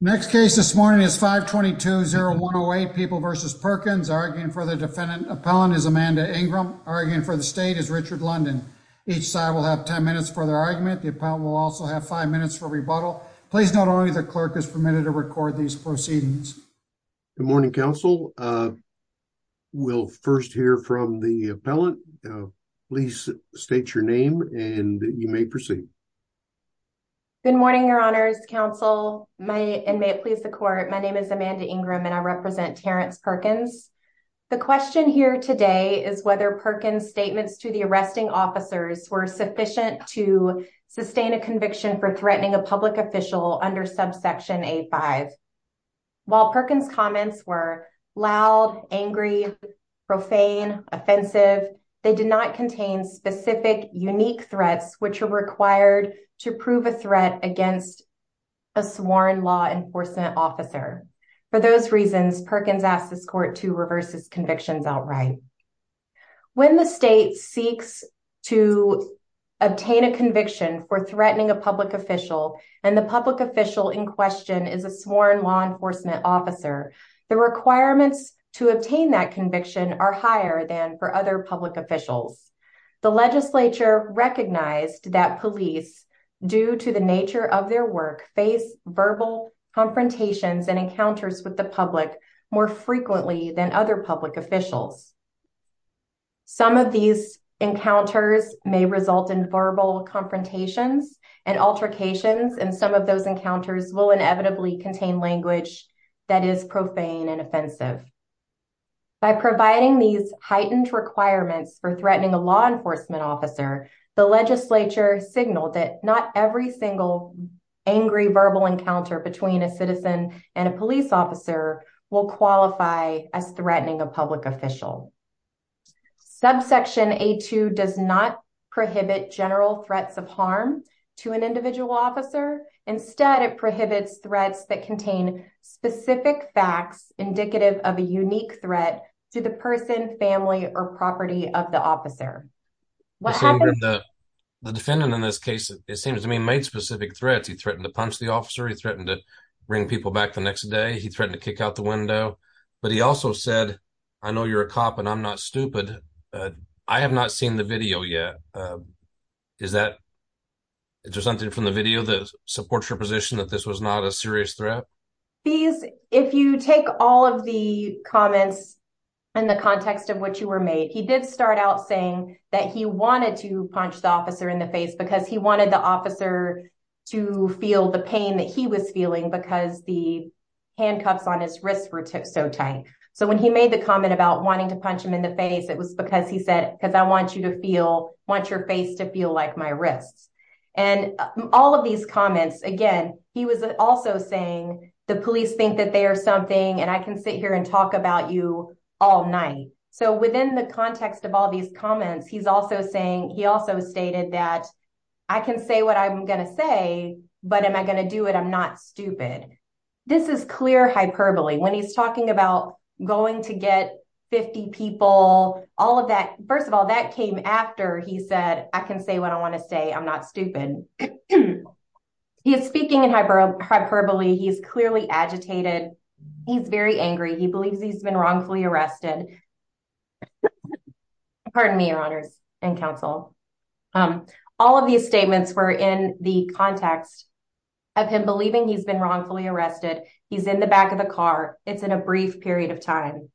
Next case this morning is 522-0108 People v. Perkins. Arguing for the defendant appellant is Amanda Ingram. Arguing for the state is Richard London. Each side will have 10 minutes for their argument. The appellant will also have 5 minutes for rebuttal. Please note only the clerk is permitted to record these proceedings. Good morning, counsel. We'll first hear from the appellant. Please state your name and you may proceed. Amanda Ingram Good morning, your honors, counsel, and may it please the court. My name is Amanda Ingram and I represent Terrence Perkins. The question here today is whether Perkins' statements to the arresting officers were sufficient to sustain a conviction for threatening a public official under subsection A-5. While Perkins' comments were loud, angry, profane, offensive, they did not contain specific unique threats which are required to prove a threat against a sworn law enforcement officer. For those reasons, Perkins asks this court to reverse his convictions outright. When the state seeks to obtain a conviction for threatening a public official and the public official in question is a sworn law enforcement officer, the requirements to obtain that conviction are higher than for other public officials. The legislature recognized that police, due to the nature of their work, face verbal confrontations and encounters with the public more frequently than other public officials. Some of these encounters may result in verbal confrontations and altercations and some of those encounters will inevitably contain language that is profane and offensive. By providing these heightened requirements for threatening a law enforcement officer, the legislature signaled that not every single angry verbal encounter between a citizen and a police officer will qualify as threatening a public official. Subsection A-2 does not prohibit general threats of harm to an individual officer. Instead, it prohibits threats that contain specific facts indicative of a unique threat to the person, family, or property of the officer. What happened? The defendant in this case, it seems to me, made specific threats. He threatened to punch the officer. He threatened to bring people back the next day. He threatened to kick out the window. But he also said, I know you're a cop and I'm not stupid, but I have not seen the video yet. Is there something from the video that supports your position that this was not a serious threat? If you take all of the comments in the context of what you were made, he did start out saying that he wanted to punch the officer in the face because he wanted the officer to feel the pain that he was feeling because the was because he said, because I want your face to feel like my wrists. And all of these comments, again, he was also saying the police think that they are something and I can sit here and talk about you all night. So within the context of all these comments, he also stated that I can say what I'm going to say, but am I going to do it? I'm not stupid. This is clear hyperbole when he's talking about going to get 50 people, all of that. First of all, that came after he said, I can say what I want to say. I'm not stupid. He is speaking in hyperbole. He's clearly agitated. He's very angry. He believes he's been wrongfully arrested. Pardon me, your honors and counsel. All of these statements were in the context of him believing he's been wrongfully arrested. He's in the back of the car. It's in a brief period of time.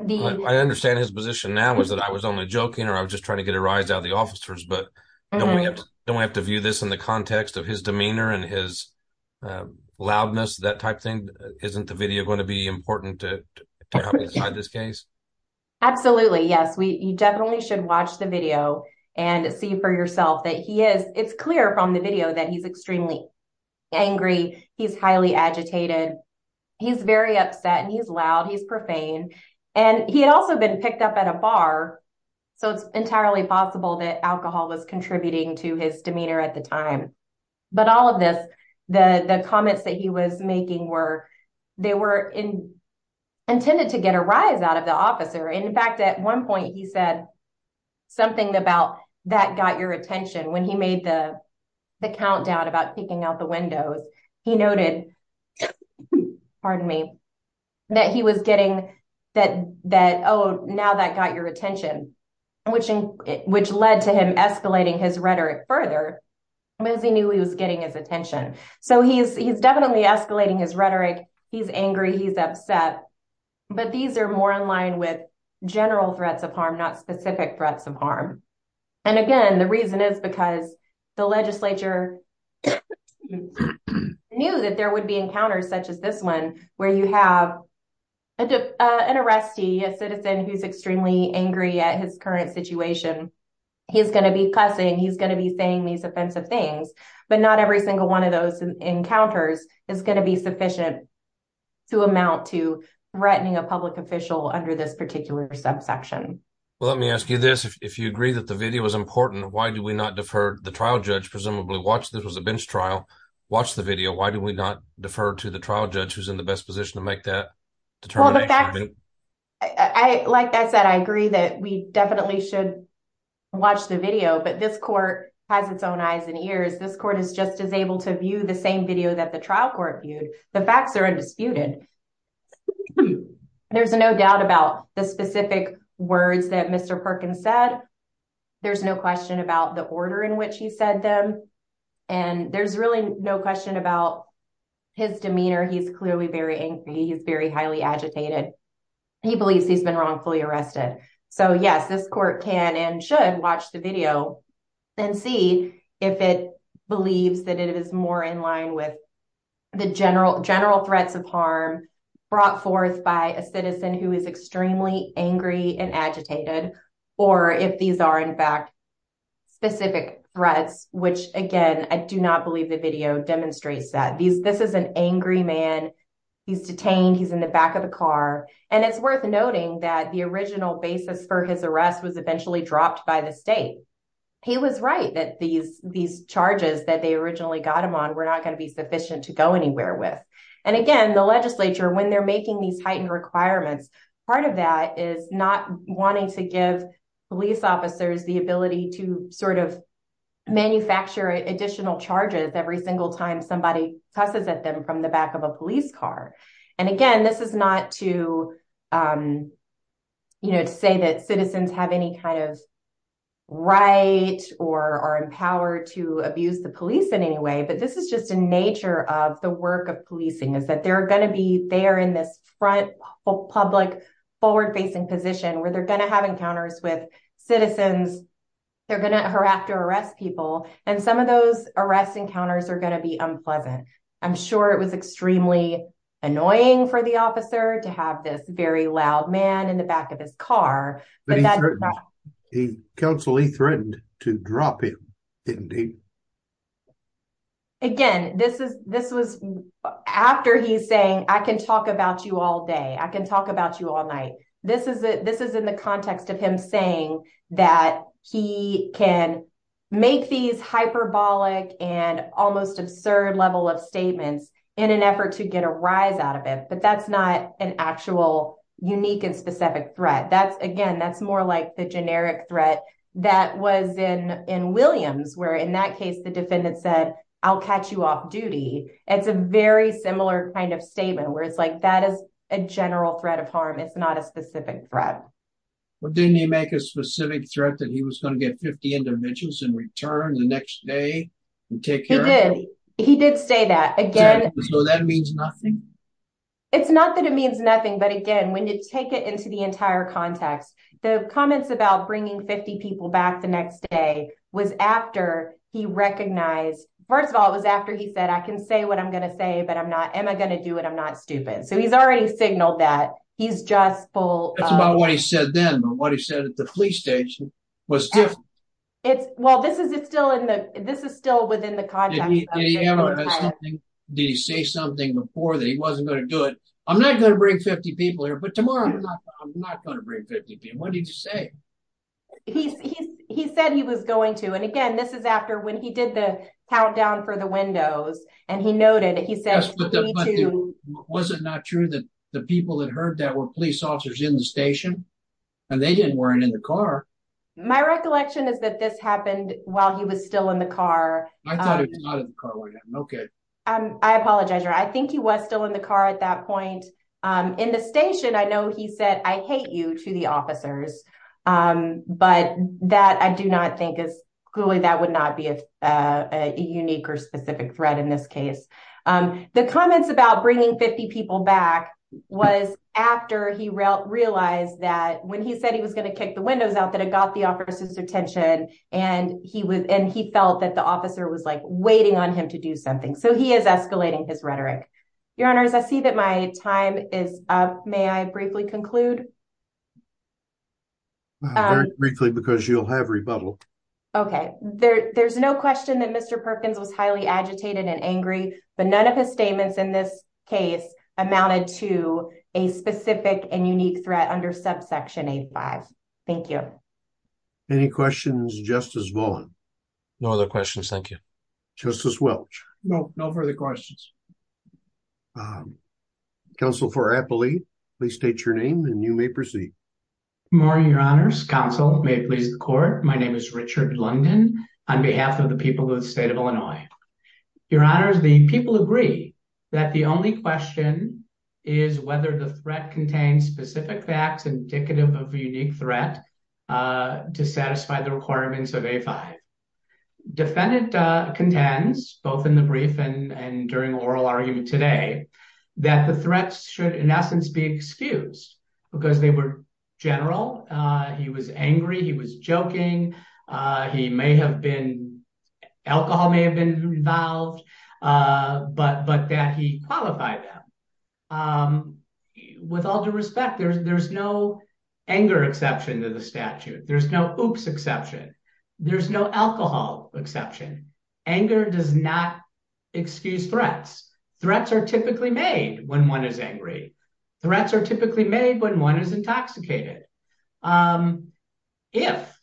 I understand his position now is that I was only joking or I was just trying to get a rise out of the officers, but then we don't have to view this in the context of his demeanor and his loudness, that type thing. Isn't the video going to be important to this case? Absolutely. Yes. We definitely should watch the video and see for yourself that he is. It's clear from the video that he's extremely angry. He's highly agitated. He's very upset and he's loud. He's profane. And he had also been picked up at a bar. So it's entirely possible that alcohol was contributing to his demeanor at the time. But all of this, the comments that he was making were, they were intended to get a rise out of the officer. In fact, at one point he said something about that got your attention. When he made the countdown about peeking out the windows, he noted, pardon me, that he was getting that, oh, now that got your attention, which led to him escalating his rhetoric further because he knew he was getting his attention. So he's definitely escalating his rhetoric. He's angry. He's upset. But these are more in line with specific threats of harm. And again, the reason is because the legislature knew that there would be encounters such as this one where you have an arrestee, a citizen who's extremely angry at his current situation. He's going to be cussing. He's going to be saying these offensive things. But not every single one of those encounters is going to be sufficient to amount to threatening a public official under this particular subsection. Well, let me ask you this. If you agree that the video is important, why do we not defer the trial judge, presumably watch, this was a bench trial, watch the video. Why do we not defer to the trial judge who's in the best position to make that determination? Like I said, I agree that we definitely should watch the video. But this court has its own eyes and ears. This court is just as able to view the same video that the trial court viewed. The facts are undisputed. There's no doubt about the specific words that Mr. Perkins said. There's no question about the order in which he said them. And there's really no question about his demeanor. He's clearly very angry. He's very highly agitated. He believes he's been wrongfully arrested. So yes, this court can and should watch the video and see if it is more in line with the general threats of harm brought forth by a citizen who is extremely angry and agitated, or if these are in fact specific threats, which again, I do not believe the video demonstrates that. This is an angry man. He's detained. He's in the back of the car. And it's worth noting that the original basis for his arrest was eventually dropped by the state. He was right that these charges that they originally got him on were not going to be sufficient to go anywhere with. And again, the legislature, when they're making these heightened requirements, part of that is not wanting to give police officers the ability to sort of manufacture additional charges every single time somebody cusses at them from the or are empowered to abuse the police in any way. But this is just a nature of the work of policing is that they're going to be there in this front public forward facing position where they're going to have encounters with citizens. They're going to have to arrest people. And some of those arrest encounters are going to be unpleasant. I'm sure it was extremely annoying for the officer to have this very loud man in the back of his car. Counselee threatened to drop him. Again, this is this was after he's saying, I can talk about you all day, I can talk about you all night. This is it. This is in the context of him saying that he can make these hyperbolic and almost absurd level of statements in an effort to get a rise out of it. But that's not an actual unique and specific threat. That's again, that's more like the generic threat that was in in Williams, where in that case, the defendant said, I'll catch you off duty. It's a very similar kind of statement where it's like that is a general threat of harm. It's not a specific threat. Well, didn't he make a specific threat that he was going to get 50 individuals in return the next day? He did say that again. So that means nothing. It's not that it means nothing. But again, when you take it into the entire context, the comments about bringing 50 people back the next day was after he recognized first of all, it was after he said, I can say what I'm going to say, but I'm not am I going to do it? I'm not stupid. So he's already signaled that he's just full. That's this is still within the context. Did he say something before that he wasn't going to do it? I'm not going to bring 50 people here. But tomorrow, I'm not going to bring 50 people. What did you say? He said he was going to and again, this is after when he did the countdown for the windows. And he noted he said, was it not true that the people that heard that were police officers in the station? And they didn't weren't in the car. My recollection is that this happened while he was still in the car. Okay, I apologize. I think he was still in the car at that point. In the station. I know he said I hate you to the officers. But that I do not think is clearly that would not be a unique or specific threat in this case. The comments about bringing 50 people back was after he realized that when he said he was going to kick the windows out that it the officer's attention, and he was and he felt that the officer was like waiting on him to do something. So he is escalating his rhetoric. Your Honors, I see that my time is up. May I briefly conclude? Briefly, because you'll have rebuttal. Okay, there's no question that Mr. Perkins was highly agitated and angry, but none of his statements in this case amounted to a specific and unique threat under subsection eight five. Thank you. Any questions just as well? No other questions. Thank you, Justice Welch. No, no further questions. Council for happily, please state your name and you may proceed. Morning, Your Honors Council may please the court. My name is Richard London, on behalf of the people of the state of Illinois. Your Honors, the people agree that the only question is whether the threat contains specific facts indicative of a unique threat to satisfy the requirements of a five. Defendant contends both in the brief and during oral argument today, that the threats should in essence be excused, because they were general. He was angry, he was joking. He may have been alcohol may have been involved. But but that he qualified them. With all due respect, there's there's no anger exception to the statute. There's no oops exception. There's no alcohol exception. Anger does not excuse threats. Threats are typically made when one is angry. Threats are typically made when one is intoxicated. If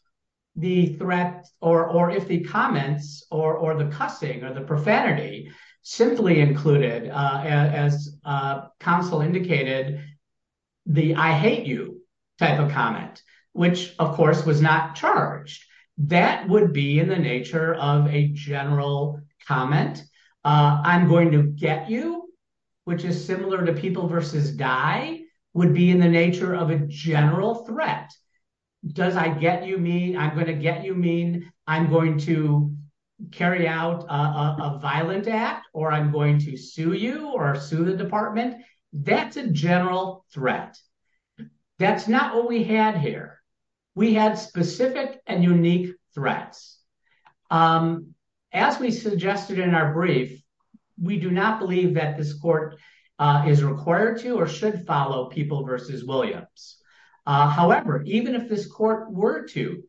the threat or if the comments or the cussing or the profanity simply included, as counsel indicated, the I hate you type of comment, which of course was not charged, that would be in the nature of a general comment. I'm going to get you, which is similar to people versus die would be in the nature of a general threat. Does I get you mean I'm going to get you mean I'm going to carry out a violent act, or I'm going to sue you or sue the department. That's a general threat. That's not what we had here. We had specific and unique threats. Um, as we suggested in our brief, we do not believe that this court is required to or should follow people versus Williams. However, even if this court were to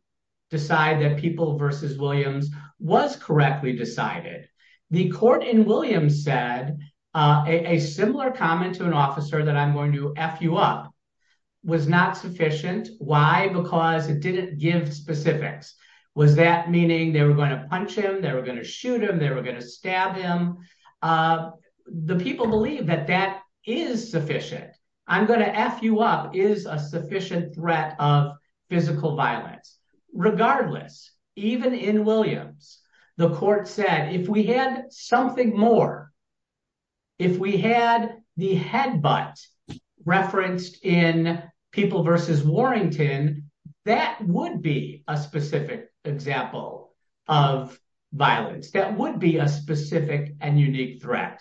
decide that people versus Williams was correctly decided, the court in Williams said a similar comment to an officer that I'm going to F you up was not sufficient. Why? Because it didn't give specifics. Was that meaning they were going to punch him? They were going to shoot him. They were going to stab him. Uh, the people believe that that is sufficient. I'm going to F you up is a sufficient threat of physical violence. Regardless, even in Williams, the court said if we had something more, if we had the head, but referenced in people versus Warrington, that would be a specific example of violence that would be a specific and unique threat.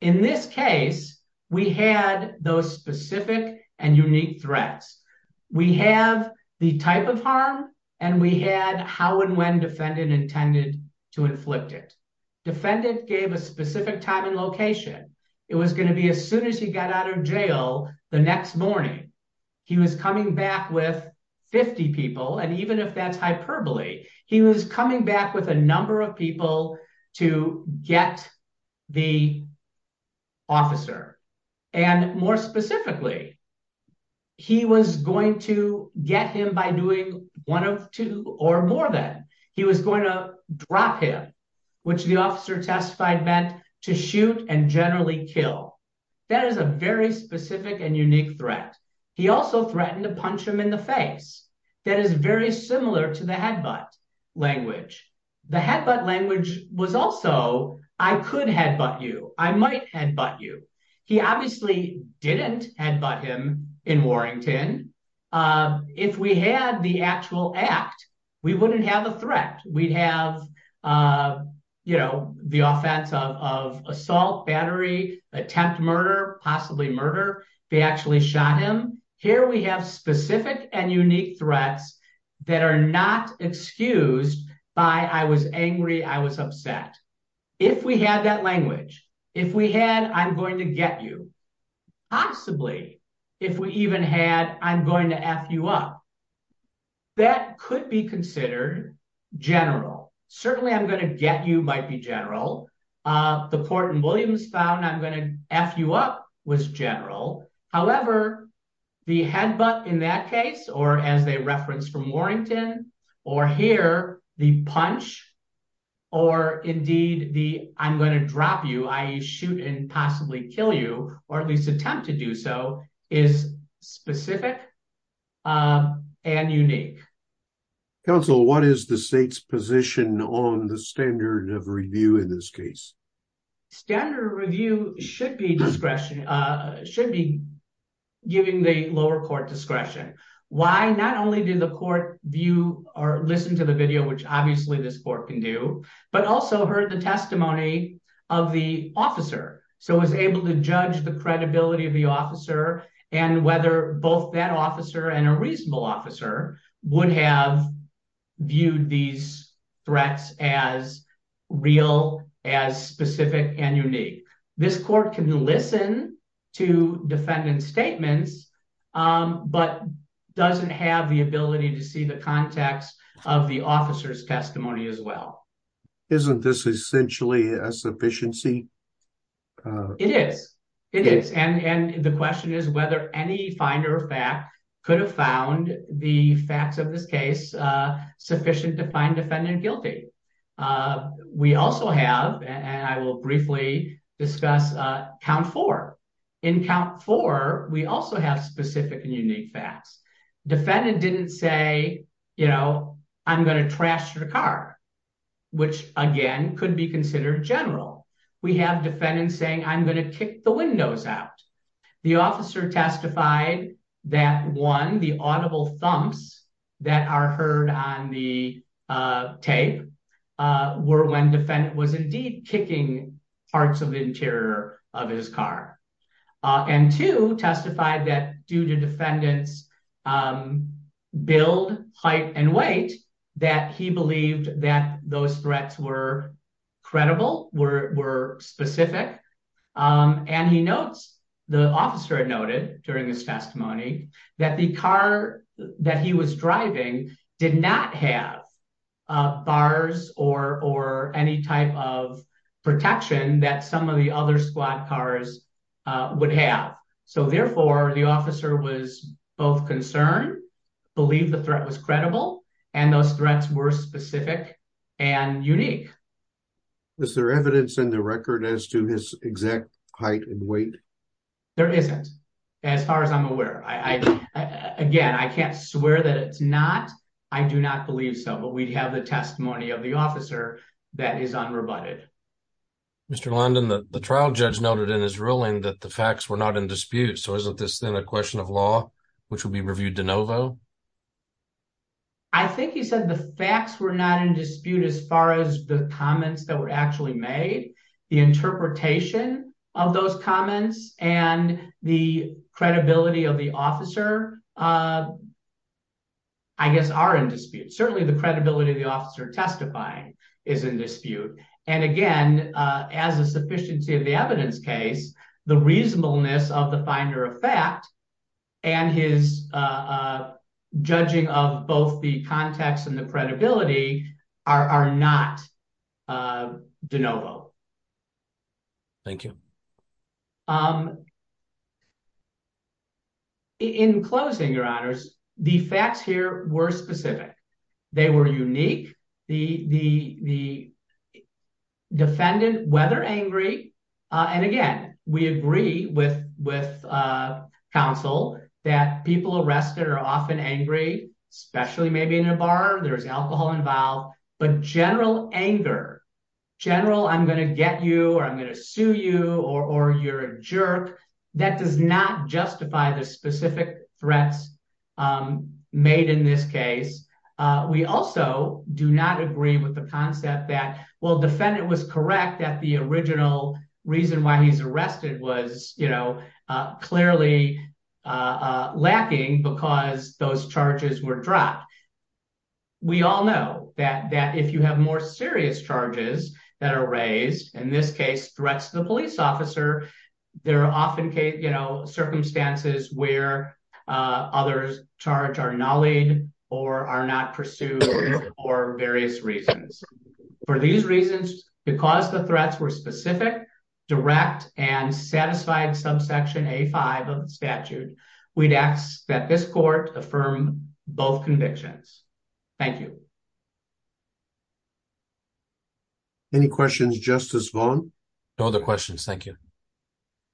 In this case, we had those specific and unique threats. We have the type of harm and we had how and when defended intended to inflict it. Defendant gave a specific time and location. It was going to be as soon as he got out of jail. The next morning he was coming back with 50 people. And even if that's hyperbole, he was coming back with a number of people to get the officer. And more specifically, he was going to get him by doing one of two or more than he was going to drop him, which the officer testified meant to shoot and generally kill. That is a very specific and unique threat. He also threatened to punch him in the face. That is very similar to the headbutt language. The headbutt language was also, I could headbutt you. I might headbutt you. He obviously didn't headbutt him in Warrington. If we had the actual act, we wouldn't have a threat. We'd have the offense of assault, battery, attempt murder, possibly murder. They actually shot him. Here we have specific and unique threats that are not excused by, I was angry, I was upset. If we had that language, if we had, I'm going to get you, possibly if we even had, I'm going to F you up, that could be considered general. Certainly, I'm going to get you might be general. The Port and Williams found I'm going to F you up was general. However, the headbutt in that case, or as they referenced from Warrington, or here, the punch, or indeed the I'm going to drop you, I shoot and possibly kill you, or at least attempt to do so, is specific and unique. Counsel, what is the state's position on the standard of review in this case? Standard review should be discretion, should be giving the lower court discretion. Why? Not only did the court view or listen to the video, which obviously this court can do, but also heard the testimony of the officer. It was able to judge the credibility of the officer and whether both that officer and a reasonable officer would have viewed these threats as real, as specific and unique. This court can listen to defendant's statements, but doesn't have the ability to see the context of the officer's testimony as well. Isn't this essentially a sufficiency? It is. It is. And the question is whether any finder of fact could have found the facts of defendant guilty. We also have, and I will briefly discuss, count four. In count four, we also have specific and unique facts. Defendant didn't say, you know, I'm going to trash your car, which again could be considered general. We have defendants saying, I'm going to kick the windows out. The officer testified that one, the audible thumps that are heard on the tape were when defendant was indeed kicking parts of the interior of his car. And two, testified that due to defendant's build, height and weight, that he believed that those threats were the officer had noted during his testimony that the car that he was driving did not have bars or any type of protection that some of the other squad cars would have. So therefore, the officer was both concerned, believed the threat was credible, and those threats were height and weight. There isn't, as far as I'm aware. Again, I can't swear that it's not. I do not believe so. But we have the testimony of the officer that is unrebutted. Mr. London, the trial judge noted in his ruling that the facts were not in dispute. So isn't this then a question of law, which will be reviewed de novo? I think he said the facts were not in of those comments. And the credibility of the officer, I guess, are in dispute. Certainly the credibility of the officer testifying is in dispute. And again, as a sufficiency of the evidence case, the reasonableness of the finder of fact and his judging of both the context and credibility are not de novo. Thank you. In closing, your honors, the facts here were specific. They were unique. The defendant, whether angry, and again, we agree with counsel that people arrested are often angry, especially maybe in a bar, there's alcohol involved, but general anger, general, I'm going to get you or I'm going to sue you or you're a jerk, that does not justify the specific threats made in this case. We also do not agree with the concept that, well, defendant was because those charges were dropped. We all know that if you have more serious charges that are raised, in this case, threats to the police officer, there are often, you know, circumstances where others' charge are nullied or are not pursued for various reasons. For these reasons, because the threats were specific, direct, and satisfied subsection A-5 of the statute, we'd ask that this court affirm both convictions. Thank you. Any questions, Justice Vaughn? No other questions, thank you.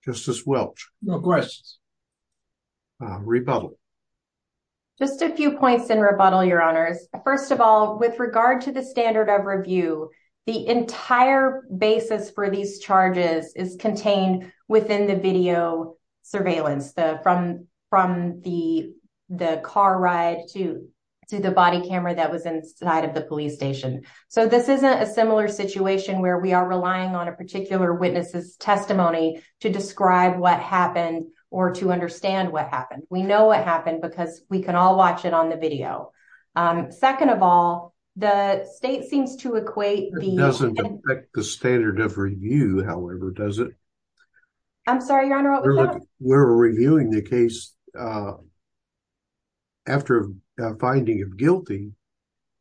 Justice Welch? No questions. Rebuttal. Just a few points in rebuttal, your honors. First of all, with regard to the standard of review, the entire basis for these charges is contained within the video surveillance, from the car ride to the body camera that was inside of the police station. So this isn't a similar situation where we are relying on a particular witness's testimony to describe what happened or to understand what happened. We know what happened because we can all watch it on the video. Second of all, the state seems to equate the- It doesn't affect the standard of review, however, does it? I'm sorry, your honor, what was that? We're reviewing the case after a finding of guilty,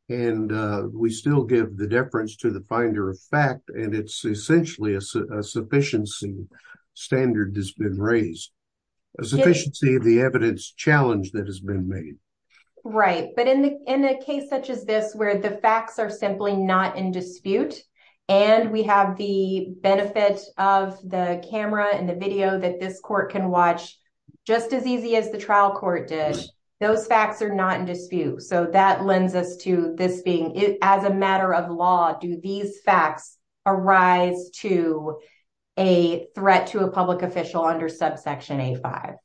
and we still give the deference to the finder of fact, and it's essentially a sufficiency standard that's been raised. A sufficiency of the evidence challenge that has been made. Right. But in a case such as this, where the facts are simply not in dispute, and we have the benefit of the camera and the video that this court can watch just as easy as the trial court did, those facts are not in dispute. So that lends us to this being, as a matter of law, do these facts arise to a threat to a public official under subsection A-5?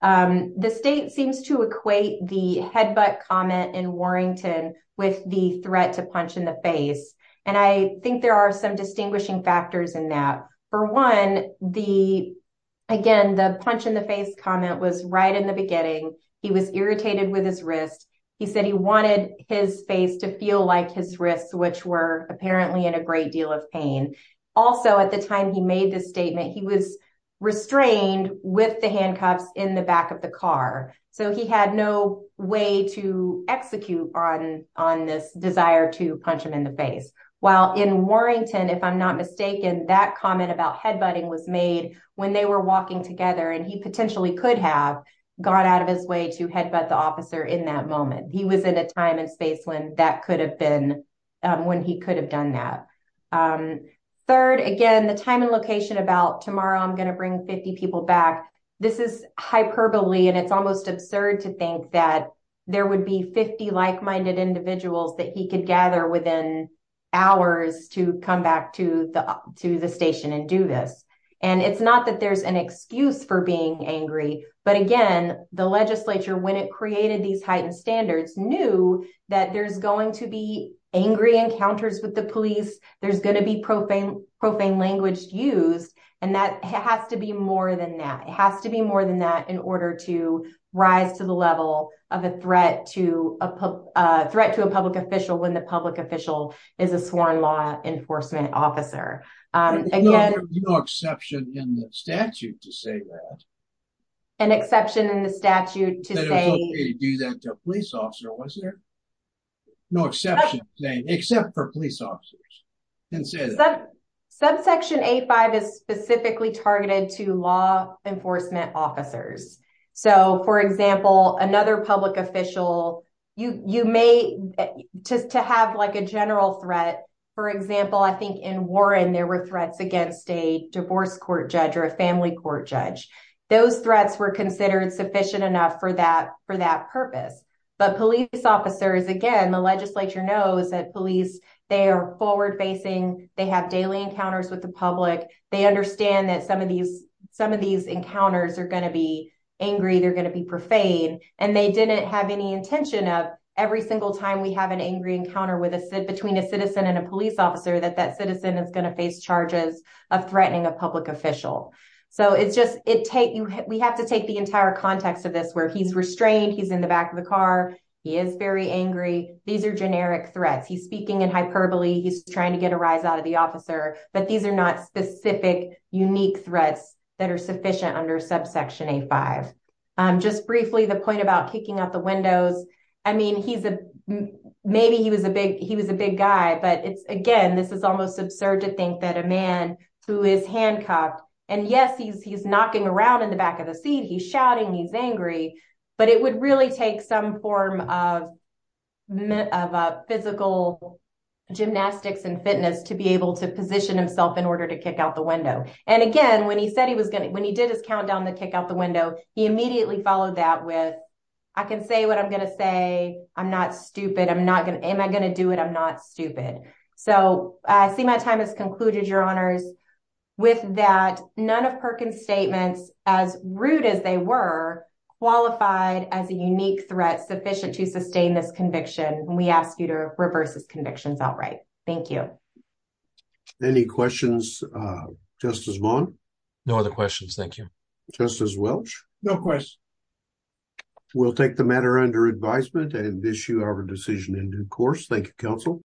The state seems to equate the headbutt in Warrington with the threat to punch in the face. And I think there are some distinguishing factors in that. For one, again, the punch in the face comment was right in the beginning. He was irritated with his wrist. He said he wanted his face to feel like his wrists, which were apparently in a great deal of pain. Also, at the time he made this statement, he was restrained with the handcuffs in the back of the car. So he had no way to execute on this desire to punch him in the face. While in Warrington, if I'm not mistaken, that comment about headbutting was made when they were walking together, and he potentially could have gone out of his way to headbutt the officer in that moment. He was in a time and space when could have done that. Third, again, the time and location about tomorrow I'm going to bring 50 people back. This is hyperbole, and it's almost absurd to think that there would be 50 like-minded individuals that he could gather within hours to come back to the station and do this. And it's not that there's an excuse for being angry. But again, the legislature, when it created these heightened standards, knew that there's going to be angry encounters with the police. There's going to be profane language used. And that has to be more than that. It has to be more than that in order to rise to the level of a threat to a public official when the public official is a sworn law enforcement officer. Again- There was no way to do that to a police officer, was there? No exception, except for police officers. Subsection A-5 is specifically targeted to law enforcement officers. So, for example, another public official, you may, to have like a general threat, for example, I think in Warren, there were threats against a divorce court judge or a family court judge. Those threats were for that purpose. But police officers, again, the legislature knows that police, they are forward-facing. They have daily encounters with the public. They understand that some of these encounters are going to be angry. They're going to be profane. And they didn't have any intention of every single time we have an angry encounter between a citizen and a police officer, that that citizen is going to face charges of threatening a public official. So, it's just, we have to take the entire context of this, where he's restrained, he's in the back of the car, he is very angry. These are generic threats. He's speaking in hyperbole. He's trying to get a rise out of the officer. But these are not specific, unique threats that are sufficient under subsection A-5. Just briefly, the point about kicking out the windows. I mean, he's a, maybe he was a big guy, but it's, again, this is almost absurd to think that a man who is Hancock, and yes, he's knocking around in the back of the seat, he's shouting, he's angry, but it would really take some form of physical gymnastics and fitness to be able to position himself in order to kick out the window. And again, when he said he was going to, when he did his countdown to kick out the window, he immediately followed that with, I can say what I'm going to say. I'm not stupid. I'm not going to, am I going to do it? I'm not stupid. So, I see my time has concluded, Your Honors. With that, none of Perkins' statements, as rude as they were, qualified as a unique threat sufficient to sustain this conviction. And we ask you to reverse his convictions outright. Thank you. Any questions, Justice Vaughn? No other questions. Thank you. Justice Welch? No questions. We'll take the matter under advisement and issue our decision in due course. Thank you, counsel.